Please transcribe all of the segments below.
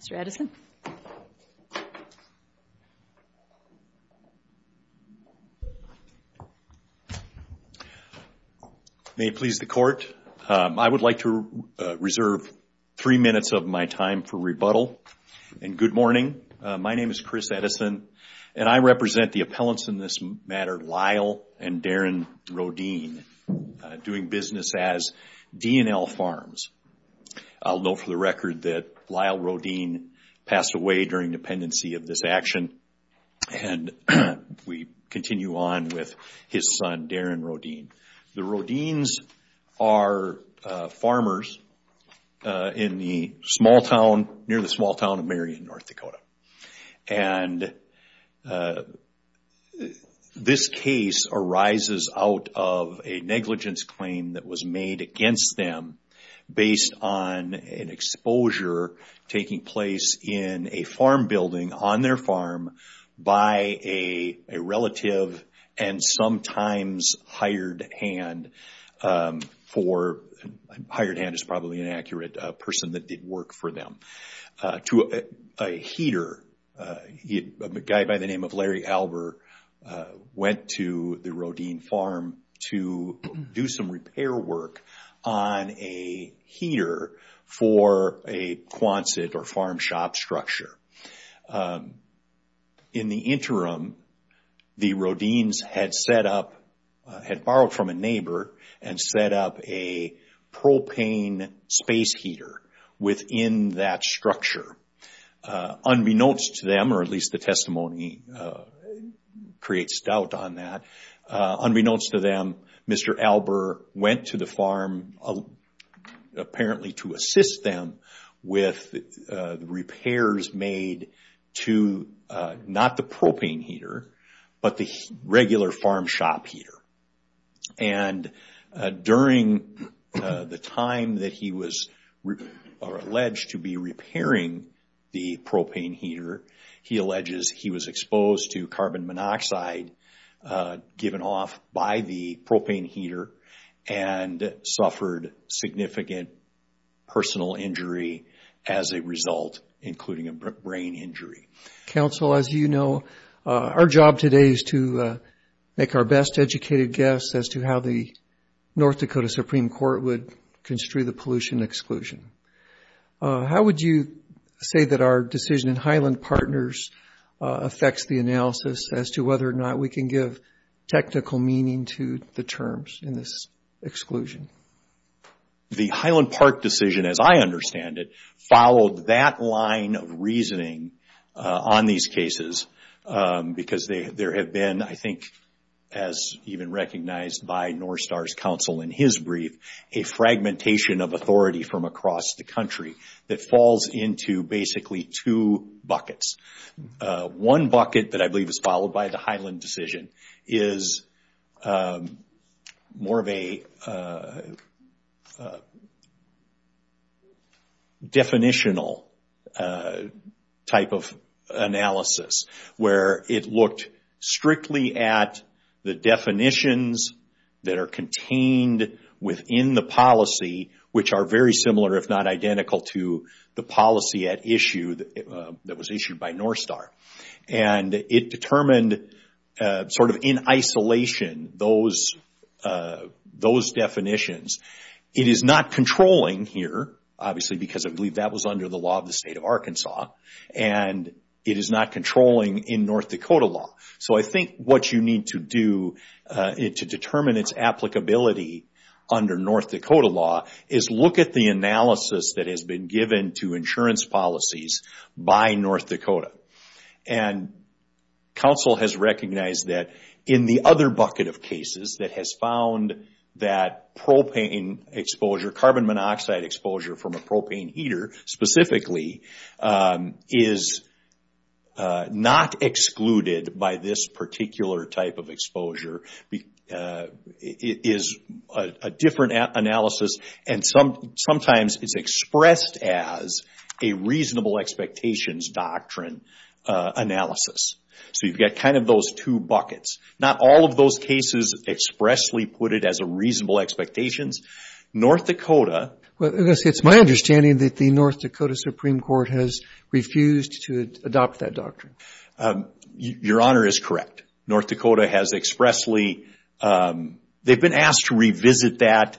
Mr. Edison. May it please the Court, I would like to reserve three minutes of my time for rebuttal, and good morning. My name is Chris Edison, and I represent the appellants in this matter, Lyle and Darren Rodin, doing business as D&L Farms. I'll note for the record that Lyle Rodin passed away during dependency of this action, and we continue on with his son, Darren Rodin. The Rodins are farmers in the small town, near the small town of Marion, in North Dakota. And this case arises out of a negligence claim that was made against them, based on an exposure taking place in a farm building, on their farm, by a relative, and sometimes hired hand, hired hand is probably inaccurate, a person that did work for them, to a heater. A guy by the name of Larry Albert went to the Rodin farm to do some repair work on a heater for a Quonset or farm shop structure. In the interim, the Rodins had set up, had borrowed from a neighbor, and set up a propane space heater within that structure. Unbeknownst to them, or at least the testimony creates doubt on that, unbeknownst to them, Mr. Albert went to the farm, apparently to assist them with repairs made to, not the propane heater, but the regular farm shop heater. And during the time that he was alleged to be repairing the propane heater, he alleges he was exposed to carbon monoxide given off by the propane heater, and suffered significant personal injury as a result, including a brain injury. Counsel, as you know, our job today is to make our best educated guess as to how the North Dakota Supreme Court would construe the pollution exclusion. How would you say that our decision in Highland Partners affects the analysis as to whether or not we can give technical meaning to the terms in this exclusion? The Highland Park decision, as I understand it, followed that line of reasoning on these cases, because there have been, I think, as even recognized by North Star's counsel in his brief, a fragmentation of authority from across the country that falls into basically two buckets. One bucket that I believe is followed by the Highland decision is more of a definitional type of analysis, where it looked strictly at the definitions that are contained within the policy, which are very similar, if not identical, to the policy at issue that was issued by North Star. And it determined, sort of in isolation, those definitions. It is not controlling here, obviously, because I believe that was under the law of the state of Arkansas, and it is not controlling in North Dakota law. So I think what you need to do to determine its applicability under North Dakota law is look at the analysis that has been given to insurance policies by North Dakota. And counsel has recognized that in the other bucket of cases that has found that propane exposure, carbon monoxide exposure from a propane heater, specifically, is not excluded by this particular type of exposure. It is a different analysis, and sometimes it's expressed as a reasonable expectations doctrine analysis. So you've got kind of those two buckets. Not all of those cases expressly put it as a reasonable expectations. North Dakota... Well, it's my understanding that the North Dakota Supreme Court has refused to adopt that doctrine. Your Honor is correct. North Dakota has expressly... They've been asked to revisit that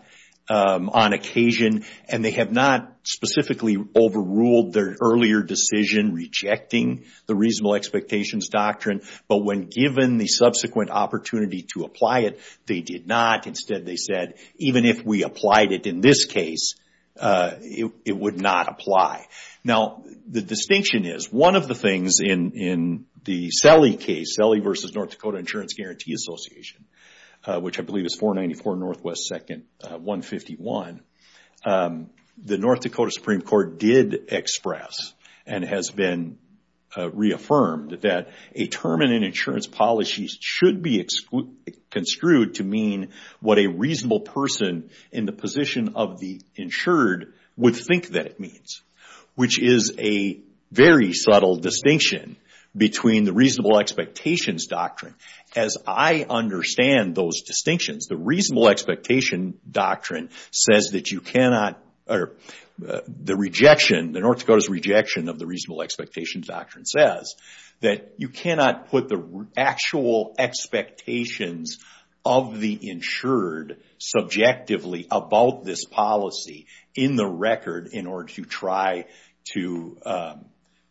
on occasion, and they have not specifically overruled their earlier decision rejecting the reasonable expectations doctrine. But when given the subsequent opportunity to apply it, they did not. Instead, they said, even if we applied it in this case, it would not apply. Now, the distinction is one of the things in the Selly case, Selly v. North Dakota Insurance Guarantee Association, which I believe is 494 Northwest 2nd 151, the North Dakota Supreme Court did express and has been reaffirmed that a term in an insurance policy should be construed to mean what a reasonable person in the position of the insured would think that it means, which is a very subtle distinction between the reasonable expectations doctrine. As I understand those distinctions, the reasonable expectations doctrine says that you cannot... The rejection, the North Dakota's rejection of the reasonable expectations doctrine says that you cannot put the actual expectations of the insured subjectively about this policy in the record in order to try to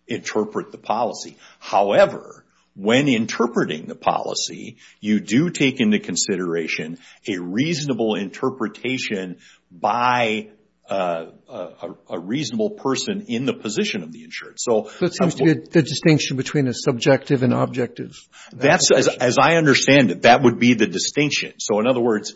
interpret the policy. However, when interpreting the policy, you do take into consideration a reasonable interpretation by a reasonable person in the position of the insured. So it seems to be the distinction between the subjective and objective. As I understand it, that would be the distinction. So in other words,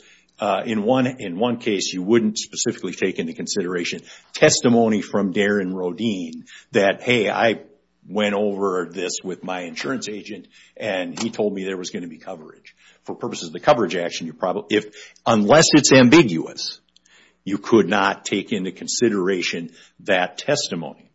in one case, you wouldn't specifically take into consideration testimony from Darren Rodin that, hey, I went over this with my insurance agent and he told me there was going to be coverage. For purposes of the coverage action, unless it's ambiguous, you could not take into consideration that testimony.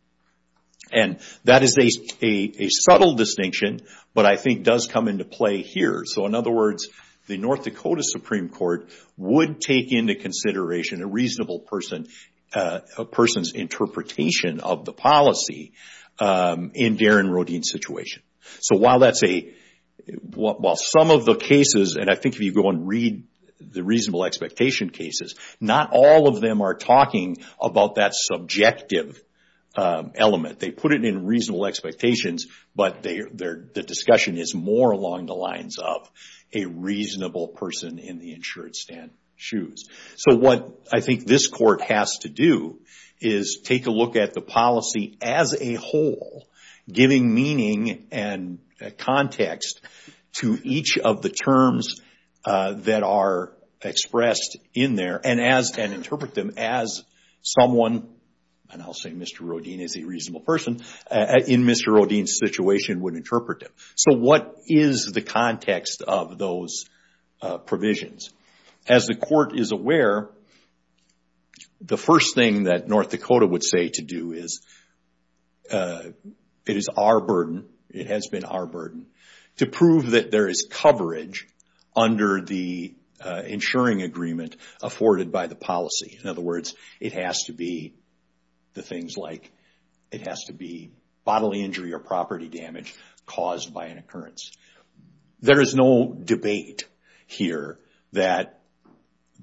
And that is a subtle distinction, but I think does come into play here. So in other words, the North Dakota Supreme Court would take into consideration a reasonable person's interpretation of the policy in Darren Rodin's situation. So while some of the cases, and I think if you go and read the reasonable expectation cases, not all of them are talking about that subjective element. They put it in reasonable expectations, but the discussion is more along the lines of a reasonable person in the insured's shoes. So what I think this court has to do is take a look at the policy as a whole, giving meaning and context to each of the terms that are expressed in there and interpret them as someone, and I'll say Mr. Rodin is a reasonable person, in Mr. Rodin's situation would interpret them. So what is the context of those provisions? As the court is aware, the first thing that North Dakota would say to do is, it is our burden, it has been our burden, to prove that there is coverage under the insuring agreement afforded by the policy. In other words, it has to be the things like, it has to be bodily injury or property damage caused by an occurrence. There is no debate here that,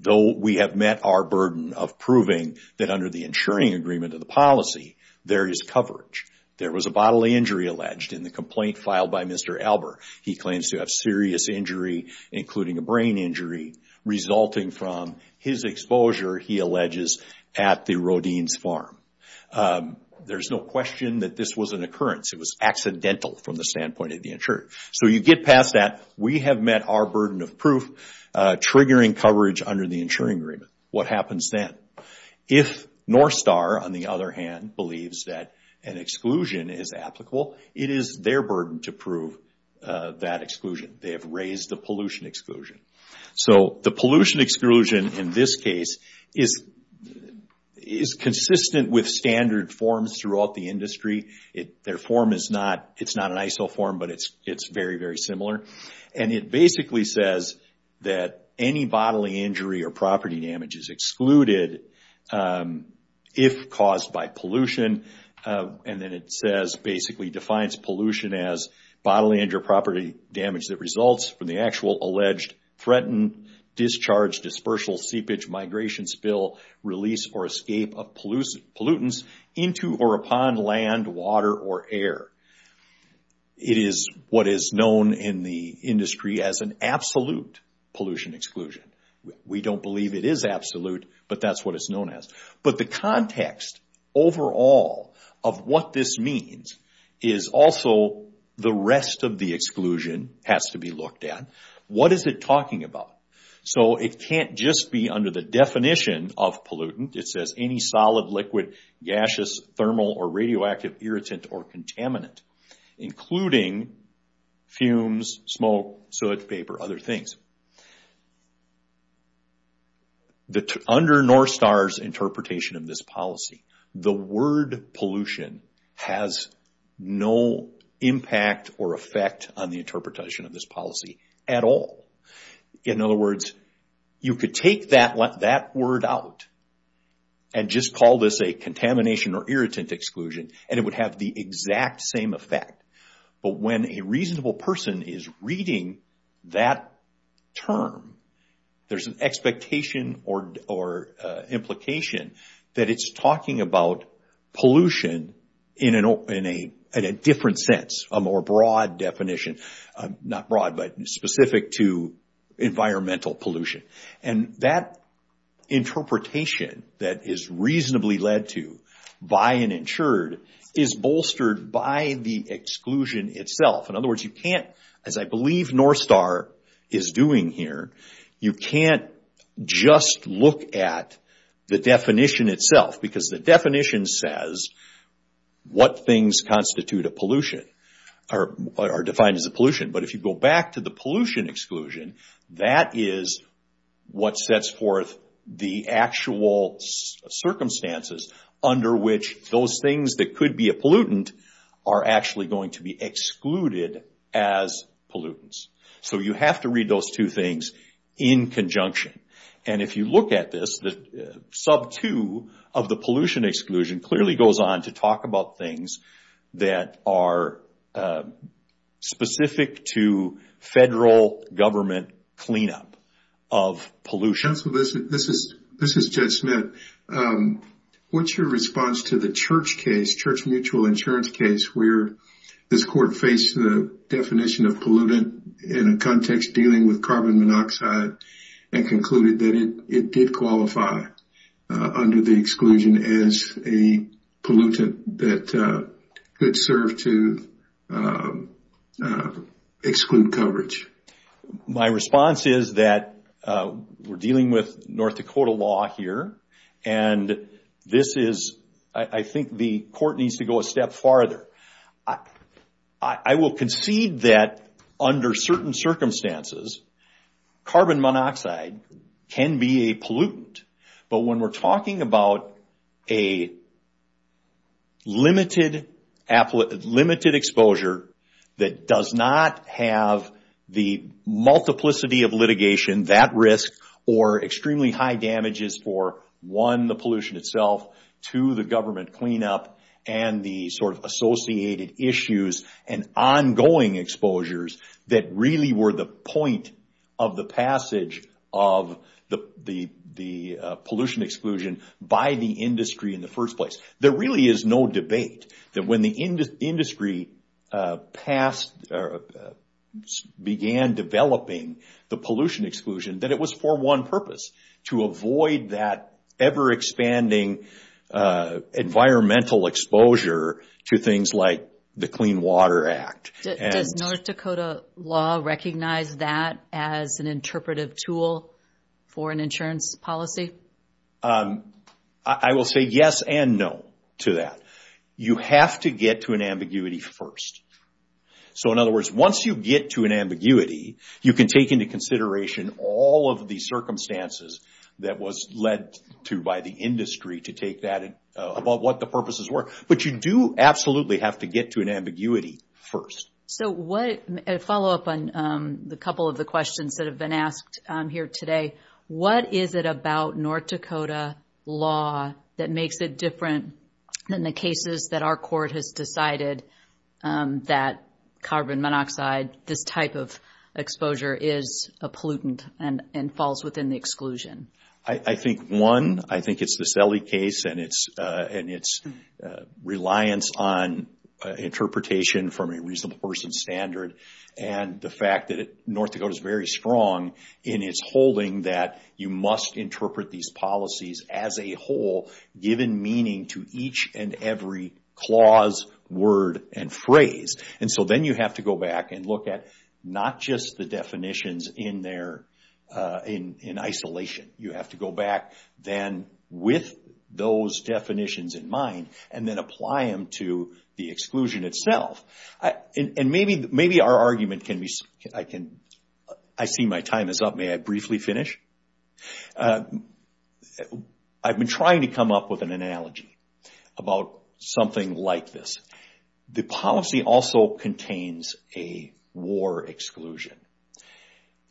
though we have met our burden of proving that under the insuring agreement of the policy, there is coverage. There was a bodily injury alleged in the complaint filed by Mr. Albert. He claims to have serious injury, including a brain injury, resulting from his exposure, he alleges, at the Rodin's farm. There's no question that this was an occurrence. It was accidental from the standpoint of the insurer. So you get past that, we have met our burden of proof, triggering coverage under the insuring agreement. What happens then? If North Star, on the other hand, believes that an exclusion is applicable, it is their burden to prove that exclusion. They have raised the pollution exclusion. So the pollution exclusion in this case is consistent with standard forms throughout the industry. Their form is not an ISO form, but it's very, very similar. It basically says that any bodily injury or property damage is excluded if caused by pollution. Then it basically defines pollution as bodily injury or property damage that results from the actual alleged threatened, discharged, dispersal, seepage, migration, spill, release, or escape of pollutants into or upon land, water, or air. It is what is known in the industry as an absolute pollution exclusion. We don't believe it is absolute, but that's what it's known as. But the context overall of what this means is also the rest of the exclusion has to be looked at. What is it talking about? It can't just be under the definition of pollutant. It says any solid, liquid, gaseous, thermal, or radioactive, irritant, or contaminant, including fumes, smoke, soot, paper, other things. Under NORSTAR's interpretation of this policy, the word pollution has no impact or effect on the interpretation of this policy at all. In other words, you could take that word out and just call this a contamination or irritant exclusion, and it would have the exact same effect. But when a reasonable person is reading that term, there's an expectation or implication that it's talking about pollution in a different sense, a more broad definition. Not broad, but specific to environmental pollution. That interpretation that is reasonably led to by an insured is bolstered by the exclusion itself. In other words, you can't, as I believe NORSTAR is doing here, you can't just look at the definition itself, because the definition says what things constitute a pollution are defined as a pollution. But if you go back to the pollution exclusion, that is what sets forth the actual circumstances under which those things that could be a pollutant are actually going to be excluded as pollutants. So you have to read those two things in conjunction. And if you look at this, the sub-two of the pollution exclusion clearly goes on to talk about things that are specific to federal government cleanup of pollution. This is Judge Smith. What's your response to the church case, church mutual insurance case, where this court faced the definition of pollutant in a context dealing with carbon monoxide and concluded that it did qualify under the exclusion as a pollutant that could serve to exclude coverage? My response is that we're dealing with North Dakota law here, and this is, I think the court needs to go a step farther. I will concede that under certain circumstances, carbon monoxide can be a pollutant. But when we're talking about a limited exposure that does not have the multiplicity of litigation, that risk, or extremely high damages for, one, the pollution itself, two, the government cleanup, and the sort of associated issues and ongoing exposures that really were the point of the passage of the pollution exclusion by the industry in the first place. There really is no debate that when the industry began developing the pollution exclusion that it was for one purpose, to avoid that ever-expanding environmental exposure to things like the Clean Water Act. Does North Dakota law recognize that as an interpretive tool for an insurance policy? I will say yes and no to that. You have to get to an ambiguity first. So in other words, once you get to an ambiguity, you can take into consideration all of the circumstances that was led to by the industry to take that about what the purposes were. But you do absolutely have to get to an ambiguity first. So a follow-up on a couple of the questions that have been asked here today, what is it about North Dakota law that makes it different than the cases that our court has decided that carbon monoxide, this type of exposure, is a pollutant and falls within the exclusion? I think one, I think it's the Selle case and its reliance on interpretation from a reasonable person's standard and the fact that North Dakota is very strong in its holding that you must interpret these policies as a whole, given meaning to each and every clause, word, and phrase. And so then you have to go back and look at not just the definitions in isolation. You have to go back then with those definitions in mind and then apply them to the exclusion itself. And maybe our argument can be, I see my time is up. May I briefly finish? I've been trying to come up with an analogy about something like this. The policy also contains a war exclusion.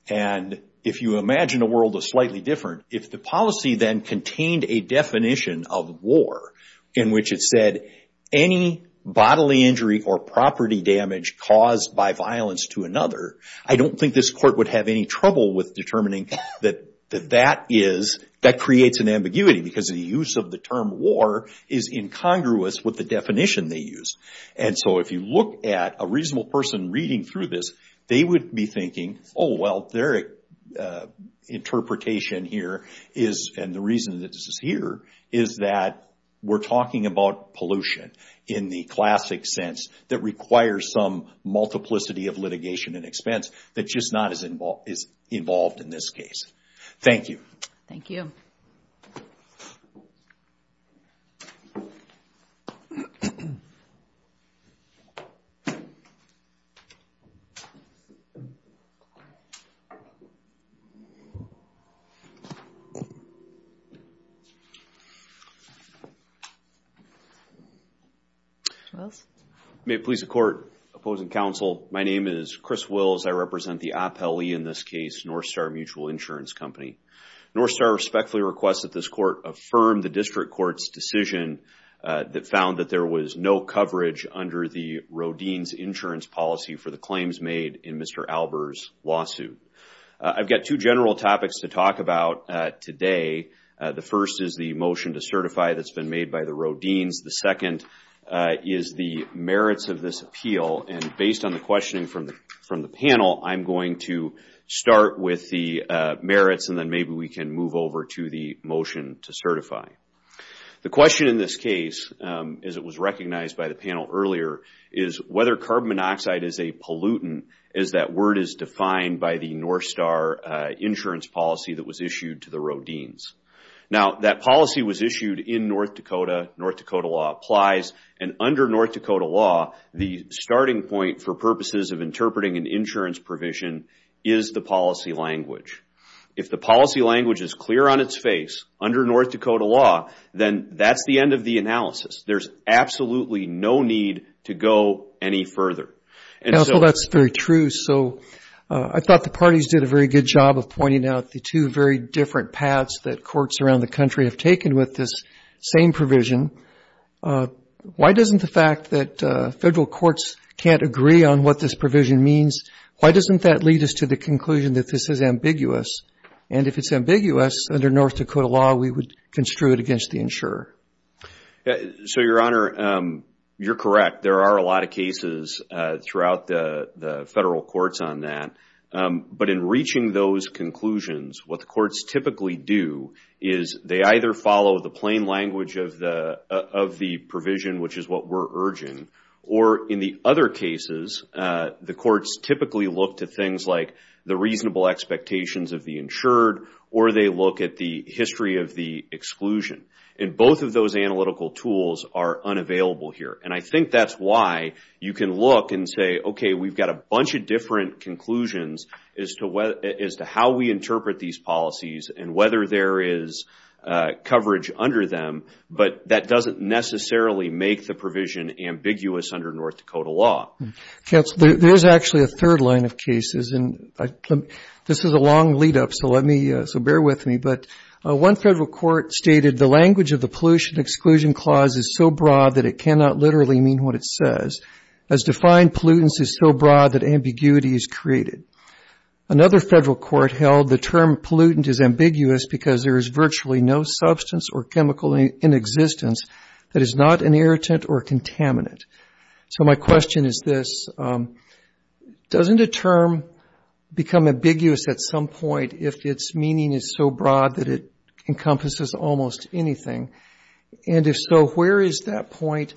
And if you imagine a world that's slightly different, if the policy then contained a definition of war in which it said, any bodily injury or property damage caused by violence to another, I don't think this court would have any trouble with determining that that is, that creates an ambiguity because the use of the term war is incongruous with the definition they use. And so if you look at a reasonable person reading through this, they would be thinking, oh, well, their interpretation here is, and the reason that this is here, is that we're talking about pollution in the classic sense that requires some multiplicity of litigation and expense that just not is involved in this case. Thank you. Thank you. May it please the Court, opposing counsel, my name is Chris Wills. I represent the appellee in this case, Northstar Mutual Insurance Company. Northstar respectfully requests that this court affirm the district court's decision that found that there was no coverage under the Rodin's insurance policy for the claims made in Mr. Albert's lawsuit. I've got two general topics to talk about today. The first is the motion to certify that's been made by the Rodin's. The second is the merits of this appeal. And based on the questioning from the panel, I'm going to start with the merits and then maybe we can move over to the motion to certify. The question in this case, as it was recognized by the panel earlier, is whether carbon monoxide is a pollutant, as that word is defined by the Northstar insurance policy that was issued to the Rodin's. Now, that policy was issued in North Dakota. North Dakota law applies. And under North Dakota law, the starting point for purposes of interpreting an insurance provision is the policy language. If the policy language is clear on its face under North Dakota law, then that's the end of the analysis. There's absolutely no need to go any further. Counsel, that's very true. So I thought the parties did a very good job of pointing out the two very different paths that courts around the country have taken with this same provision. Why doesn't the fact that federal courts can't agree on what this provision means, why doesn't that lead us to the conclusion that this is ambiguous? And if it's ambiguous, under North Dakota law, we would construe it against the insurer. So, Your Honor, you're correct. There are a lot of cases throughout the federal courts on that. But in reaching those conclusions, what the courts typically do is they either follow the plain language of the provision, which is what we're urging, or in the other cases the courts typically look to things like the reasonable expectations of the insured or they look at the history of the exclusion. And both of those analytical tools are unavailable here. And I think that's why you can look and say, okay, we've got a bunch of different conclusions as to how we interpret these policies and whether there is coverage under them, but that doesn't necessarily make the provision ambiguous under North Dakota law. Counsel, there's actually a third line of cases. And this is a long lead-up, so bear with me. But one federal court stated, the language of the pollution exclusion clause is so broad that it cannot literally mean what it says. As defined, pollutants is so broad that ambiguity is created. Another federal court held the term pollutant is ambiguous because there is virtually no substance or chemical in existence that is not an irritant or contaminant. So my question is this. Doesn't a term become ambiguous at some point if its meaning is so broad that it encompasses almost anything? And if so, where is that point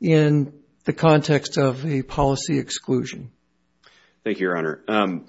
in the context of a policy exclusion? Thank you, Your Honor.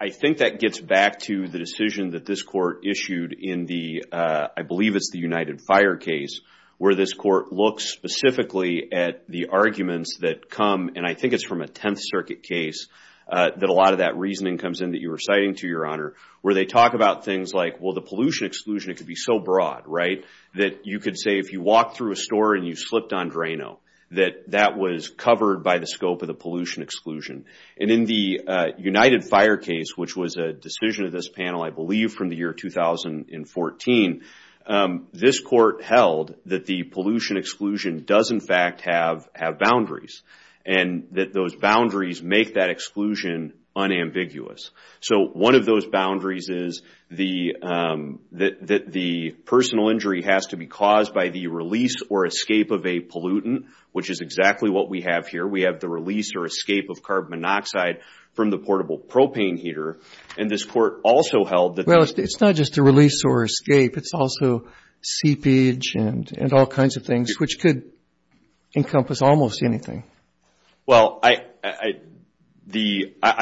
I think that gets back to the decision that this court issued in the, I believe it's the United Fire case, where this court looks specifically at the arguments that come, and I think it's from a Tenth Circuit case, that a lot of that reasoning comes in that you were citing to, Your Honor, where they talk about things like, well, the pollution exclusion, it could be so broad, right, that you could say if you walk through a store and you slipped on Drano, that that was covered by the scope of the pollution exclusion. And in the United Fire case, which was a decision of this panel, I believe from the year 2014, this court held that the pollution exclusion does in fact have boundaries, and that those boundaries make that exclusion unambiguous. So, one of those boundaries is that the personal injury has to be caused by the release or escape of a pollutant, which is exactly what we have here. We have the release or escape of carbon monoxide from the portable propane heater, and this court also held that… Well, it's not just a release or escape. It's also seepage and all kinds of things, which could encompass almost anything. Well, I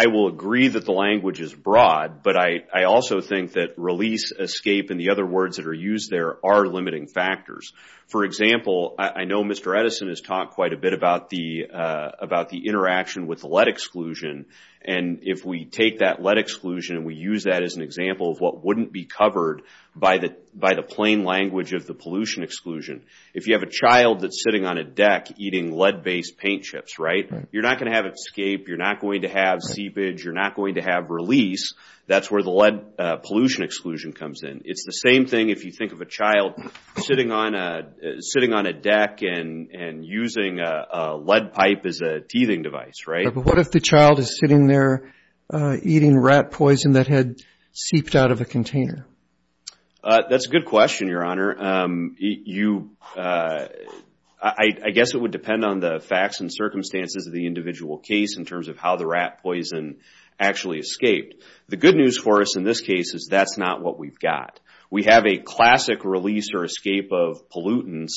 will agree that the language is broad, but I also think that release, escape, and the other words that are used there are limiting factors. For example, I know Mr. Edison has talked quite a bit about the interaction with the lead exclusion, and if we take that lead exclusion and we use that as an example of what wouldn't be covered by the plain language of the pollution exclusion, if you have a child that's sitting on a deck eating lead-based paint chips, right? You're not going to have escape. You're not going to have seepage. You're not going to have release. That's where the lead pollution exclusion comes in. It's the same thing if you think of a child sitting on a deck and using a lead pipe as a teething device, right? But what if the child is sitting there eating rat poison that had seeped out of a container? That's a good question, Your Honor. I guess it would depend on the facts and circumstances of the individual case in terms of how the rat poison actually escaped. The good news for us in this case is that's not what we've got. We have a classic release or escape of pollutants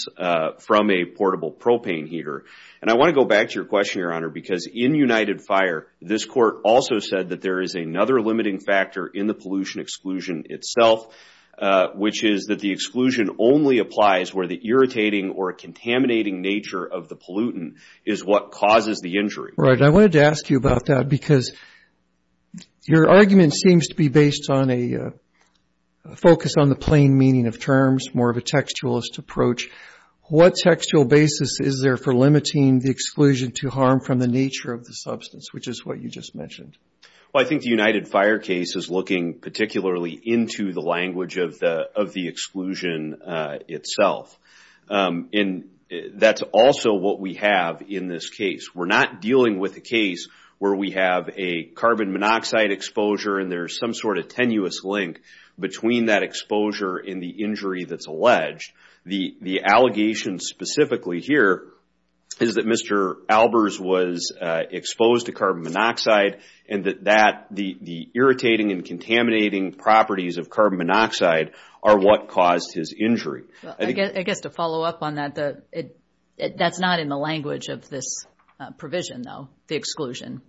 from a portable propane heater. And I want to go back to your question, Your Honor, because in United Fire, this court also said that there is another limiting factor in the pollution exclusion itself, which is that the exclusion only applies where the irritating or contaminating nature of the pollutant is what causes the injury. I wanted to ask you about that because your argument seems to be based on a focus on the plain meaning of terms, more of a textualist approach. What textual basis is there for limiting the exclusion to harm from the nature of the substance, which is what you just mentioned? Well, I think the United Fire case is looking particularly into the language of the exclusion itself. And that's also what we have in this case. We're not dealing with a case where we have a carbon monoxide exposure and there's some sort of tenuous link between that exposure and the injury that's alleged. The allegation specifically here is that Mr. Albers was exposed to carbon monoxide and that the irritating and contaminating properties of carbon monoxide are what caused his injury. I guess to follow up on that, that's not in the language of this provision, though, the exclusion.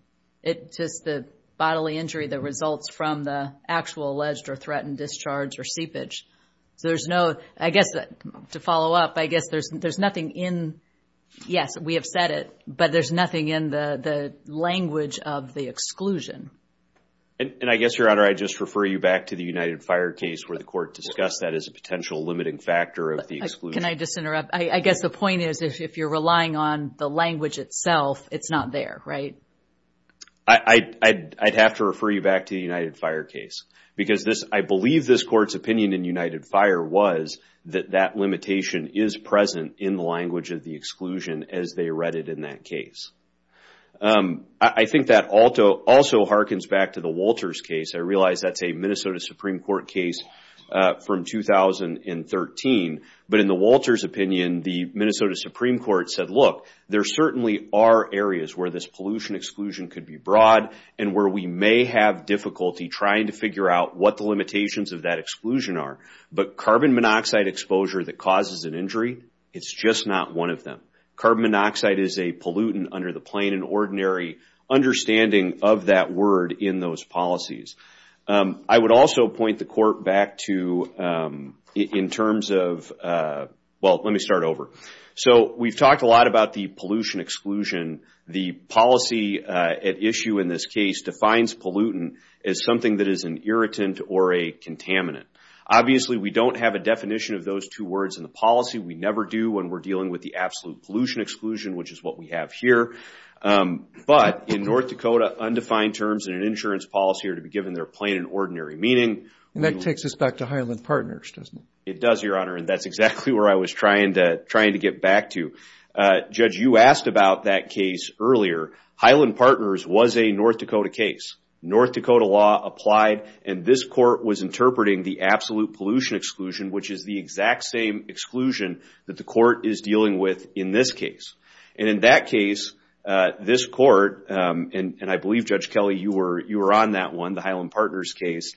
It's just the bodily injury that results from the actual alleged or threatened discharge or seepage. So there's no, I guess to follow up, I guess there's nothing in, yes, we have said it, but there's nothing in the language of the exclusion. And I guess, Your Honor, I just refer you back to the United Fire case where the court discussed that as a potential limiting factor of the exclusion. Can I just interrupt? I guess the point is if you're relying on the language itself, it's not there, right? I'd have to refer you back to the United Fire case. Because I believe this court's opinion in United Fire was that that limitation is present in the language of the exclusion as they read it in that case. I think that also hearkens back to the Wolters case. I realize that's a Minnesota Supreme Court case from 2013. But in the Wolters opinion, the Minnesota Supreme Court said, look, there certainly are areas where this pollution exclusion could be broad and where we may have difficulty trying to figure out what the limitations of that exclusion are. But carbon monoxide exposure that causes an injury, it's just not one of them. Carbon monoxide is a pollutant under the plain and ordinary understanding of that word in those policies. I would also point the court back to, in terms of, well, let me start over. So we've talked a lot about the pollution exclusion. The policy at issue in this case defines pollutant as something that is an irritant or a contaminant. Obviously, we don't have a definition of those two words in the policy. We never do when we're dealing with the absolute pollution exclusion, which is what we have here. But in North Dakota, undefined terms in an insurance policy are to be given their plain and ordinary meaning. And that takes us back to Highland Partners, doesn't it? It does, Your Honor, and that's exactly where I was trying to get back to. Judge, you asked about that case earlier. Highland Partners was a North Dakota case. North Dakota law applied, and this court was interpreting the absolute pollution exclusion, which is the exact same exclusion that the court is dealing with in this case. And in that case, this court, and I believe, Judge Kelly, you were on that one, the Highland Partners case,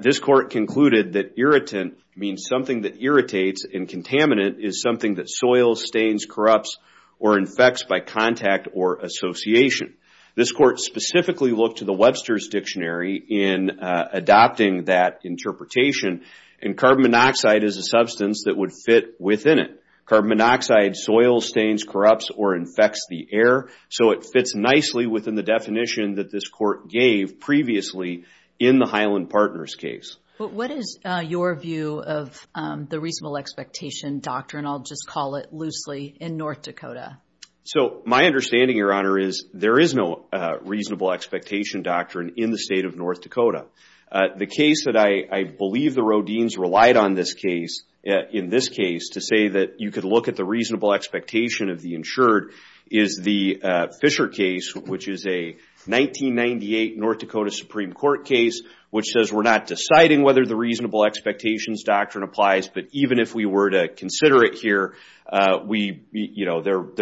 this court concluded that irritant means something that irritates, and contaminant is something that soils, stains, corrupts, or infects by contact or association. This court specifically looked to the Webster's Dictionary in adopting that interpretation, and carbon monoxide is a substance that would fit within it. Carbon monoxide soils, stains, corrupts, or infects the air, so it fits nicely within the definition that this court gave previously in the Highland Partners case. What is your view of the reasonable expectation doctrine, I'll just call it loosely, in North Dakota? So my understanding, Your Honor, is there is no reasonable expectation doctrine in the state of North Dakota. The case that I believe the Rodin's relied on in this case to say that you could look at the reasonable expectation of the insured is the Fisher case, which is a 1998 North Dakota Supreme Court case, which says we're not deciding whether the reasonable expectations doctrine applies, but even if we were to consider it here, there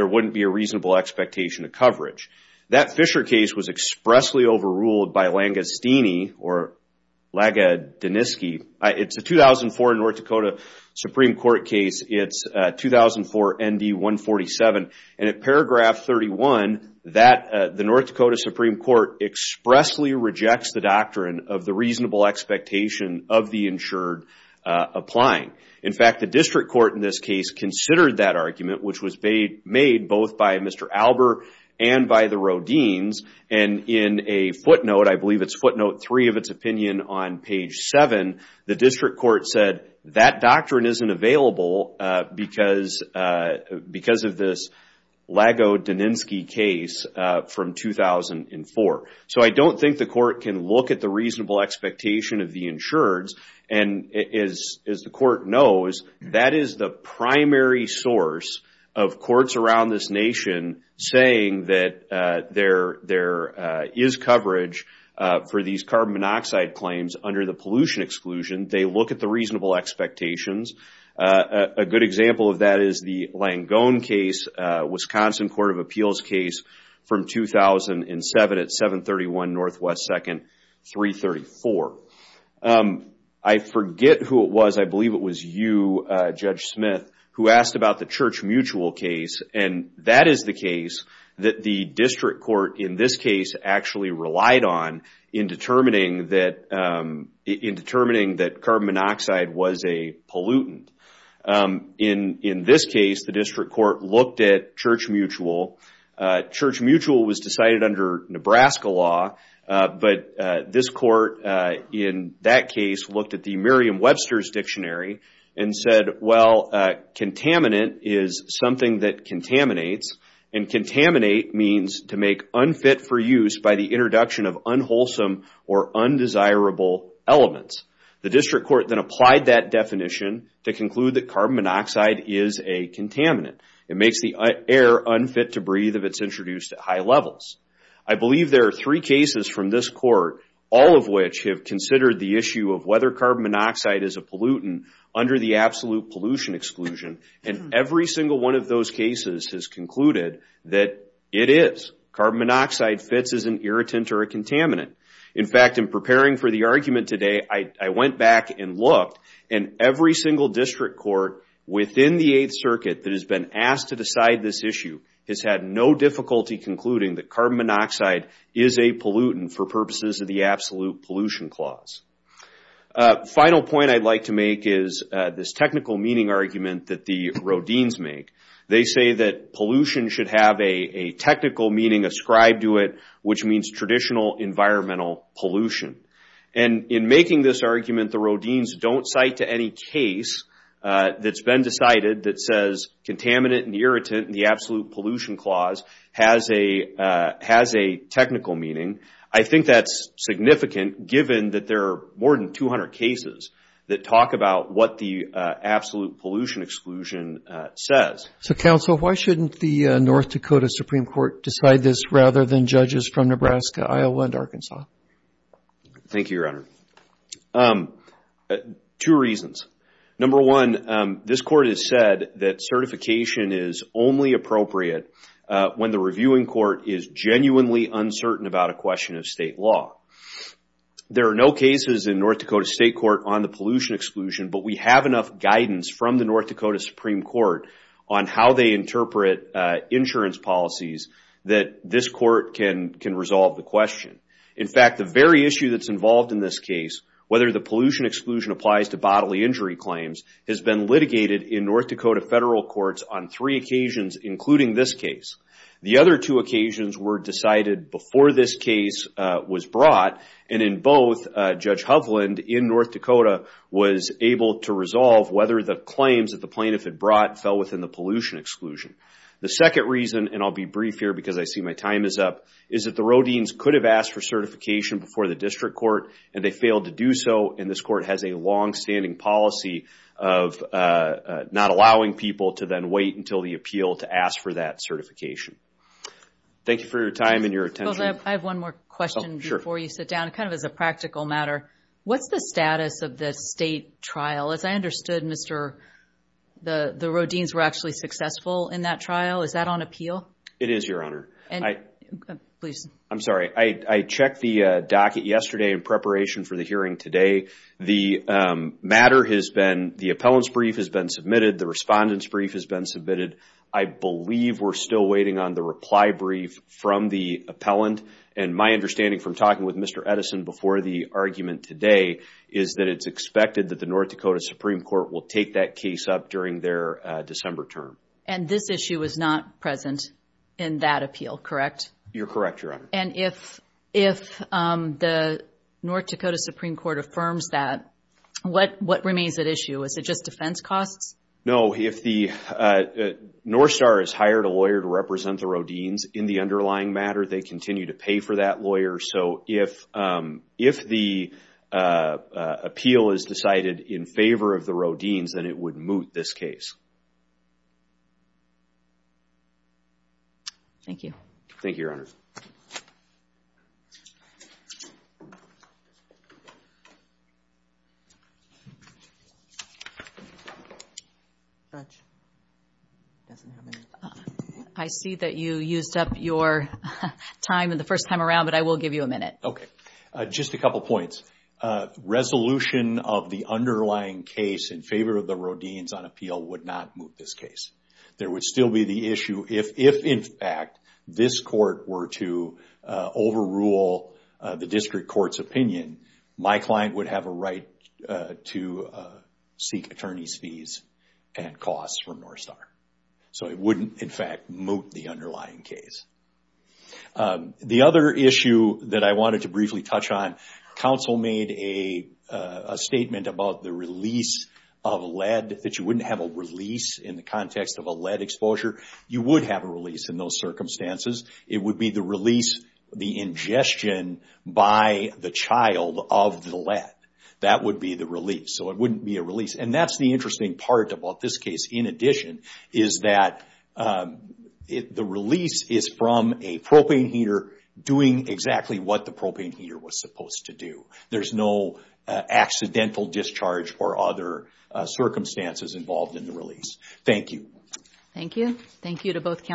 wouldn't be a reasonable expectation of coverage. That Fisher case was expressly overruled by Lange-Steeney, or Lange-Deniskey. It's a 2004 North Dakota Supreme Court case, it's 2004 ND 147, and at paragraph 31, the North Dakota Supreme Court expressly rejects the doctrine of the reasonable expectation of the insured applying. In fact, the district court in this case considered that argument, which was made both by Mr. Albert and by the Rodin's, and in a footnote, I believe it's footnote three of its opinion on page seven, the district court said that doctrine isn't available because of this Lago-Deniskey case from 2004. So I don't think the court can look at the reasonable expectation of the insureds, and as the court knows, that is the primary source of courts around this nation saying that there is coverage for these carbon monoxide claims under the pollution exclusion, they look at the reasonable expectations. A good example of that is the Langone case, Wisconsin Court of Appeals case from 2007 at 731 NW 2nd 334. I forget who it was, I believe it was you, Judge Smith, who asked about the Church Mutual case, and that is the case that the district court in this case actually relied on in determining that carbon monoxide was a pollutant. In this case, the district court looked at Church Mutual. Church Mutual was decided under Nebraska law, but this court in that case looked at the Merriam-Webster's Dictionary and said, well, contaminant is something that contaminates, and contaminate means to make unfit for use by the introduction of unwholesome or undesirable elements. The district court then applied that definition to conclude that carbon monoxide is a contaminant. It makes the air unfit to breathe if it's introduced at high levels. I believe there are three cases from this court, all of which have considered the issue of whether carbon monoxide is a pollutant under the absolute pollution exclusion, and every single one of those cases has concluded that it is. Carbon monoxide fits as an irritant or a contaminant. In fact, in preparing for the argument today, I went back and looked, and every single district court within the Eighth Circuit that has been asked to decide this issue has had no difficulty concluding that carbon monoxide is a pollutant for purposes of the absolute pollution clause. The final point I'd like to make is this technical meaning argument that the Rodin's make. They say that pollution should have a technical meaning ascribed to it, which means traditional environmental pollution. In making this argument, the Rodin's don't cite to any case that's been decided that says contaminant and irritant in the absolute pollution clause has a technical meaning. I think that's significant given that there are more than 200 cases that talk about what the absolute pollution exclusion says. So, counsel, why shouldn't the North Dakota Supreme Court decide this rather than judges from Nebraska, Iowa, and Arkansas? Thank you, Your Honor. Two reasons. Number one, this court has said that certification is only appropriate when the reviewing court is genuinely uncertain about a question of state law. There are no cases in North Dakota State Court on the pollution exclusion, but we have enough guidance from the North Dakota Supreme Court on how they interpret insurance policies that this court can resolve the question. In fact, the very issue that's involved in this case, whether the pollution exclusion applies to bodily injury claims, has been litigated in North Dakota federal courts on three occasions, including this case. The other two occasions were decided before this case was brought, and in both, Judge Hovland in North Dakota was able to resolve whether the claims that the plaintiff had brought fell within the pollution exclusion. The second reason, and I'll be brief here because I see my time is up, is that the Rodin's could have asked for certification before the district court, and they failed to do so, and this court has a longstanding policy of not allowing people to then wait until the appeal to ask for that certification. Thank you for your time and your attention. I have one more question before you sit down, kind of as a practical matter. What's the status of the state trial? As I understood, the Rodin's were actually successful in that trial. Is that on appeal? It is, Your Honor. I'm sorry. I checked the docket yesterday in preparation for the hearing today. The matter has been, the appellant's brief has been submitted. The respondent's brief has been submitted. I believe we're still waiting on the reply brief from the appellant, and my understanding from talking with Mr. Edison before the argument today is that it's expected that the North Dakota Supreme Court will take that case up during their December term. And this issue is not present in that appeal, correct? You're correct, Your Honor. And if the North Dakota Supreme Court affirms that, what remains at issue? Is it just defense costs? No. If the North Star has hired a lawyer to represent the Rodin's in the underlying matter, they continue to pay for that lawyer. So if the appeal is decided in favor of the Rodin's, then it would moot this case. Thank you. Thank you, Your Honor. I see that you used up your time the first time around, but I will give you a minute. Okay. Just a couple points. Resolution of the underlying case in favor of the Rodin's on appeal would not moot this case. There would still be the issue if, in fact, this court were to overrule the district court's opinion, my client would have a right to seek attorney's fees and costs from North Star. So it wouldn't, in fact, moot the underlying case. The other issue that I wanted to briefly touch on, counsel made a statement about the release of lead, that you wouldn't have a release in the context of a lead exposure. You would have a release in those circumstances. It would be the release, the ingestion by the child of the lead. That would be the release. So it wouldn't be a release. And that's the interesting part about this case, in addition, is that the release is from a propane heater doing exactly what the propane heater was supposed to do. There's no accidental discharge or other circumstances involved in the release. Thank you. Thank you. Thank you to both counsel.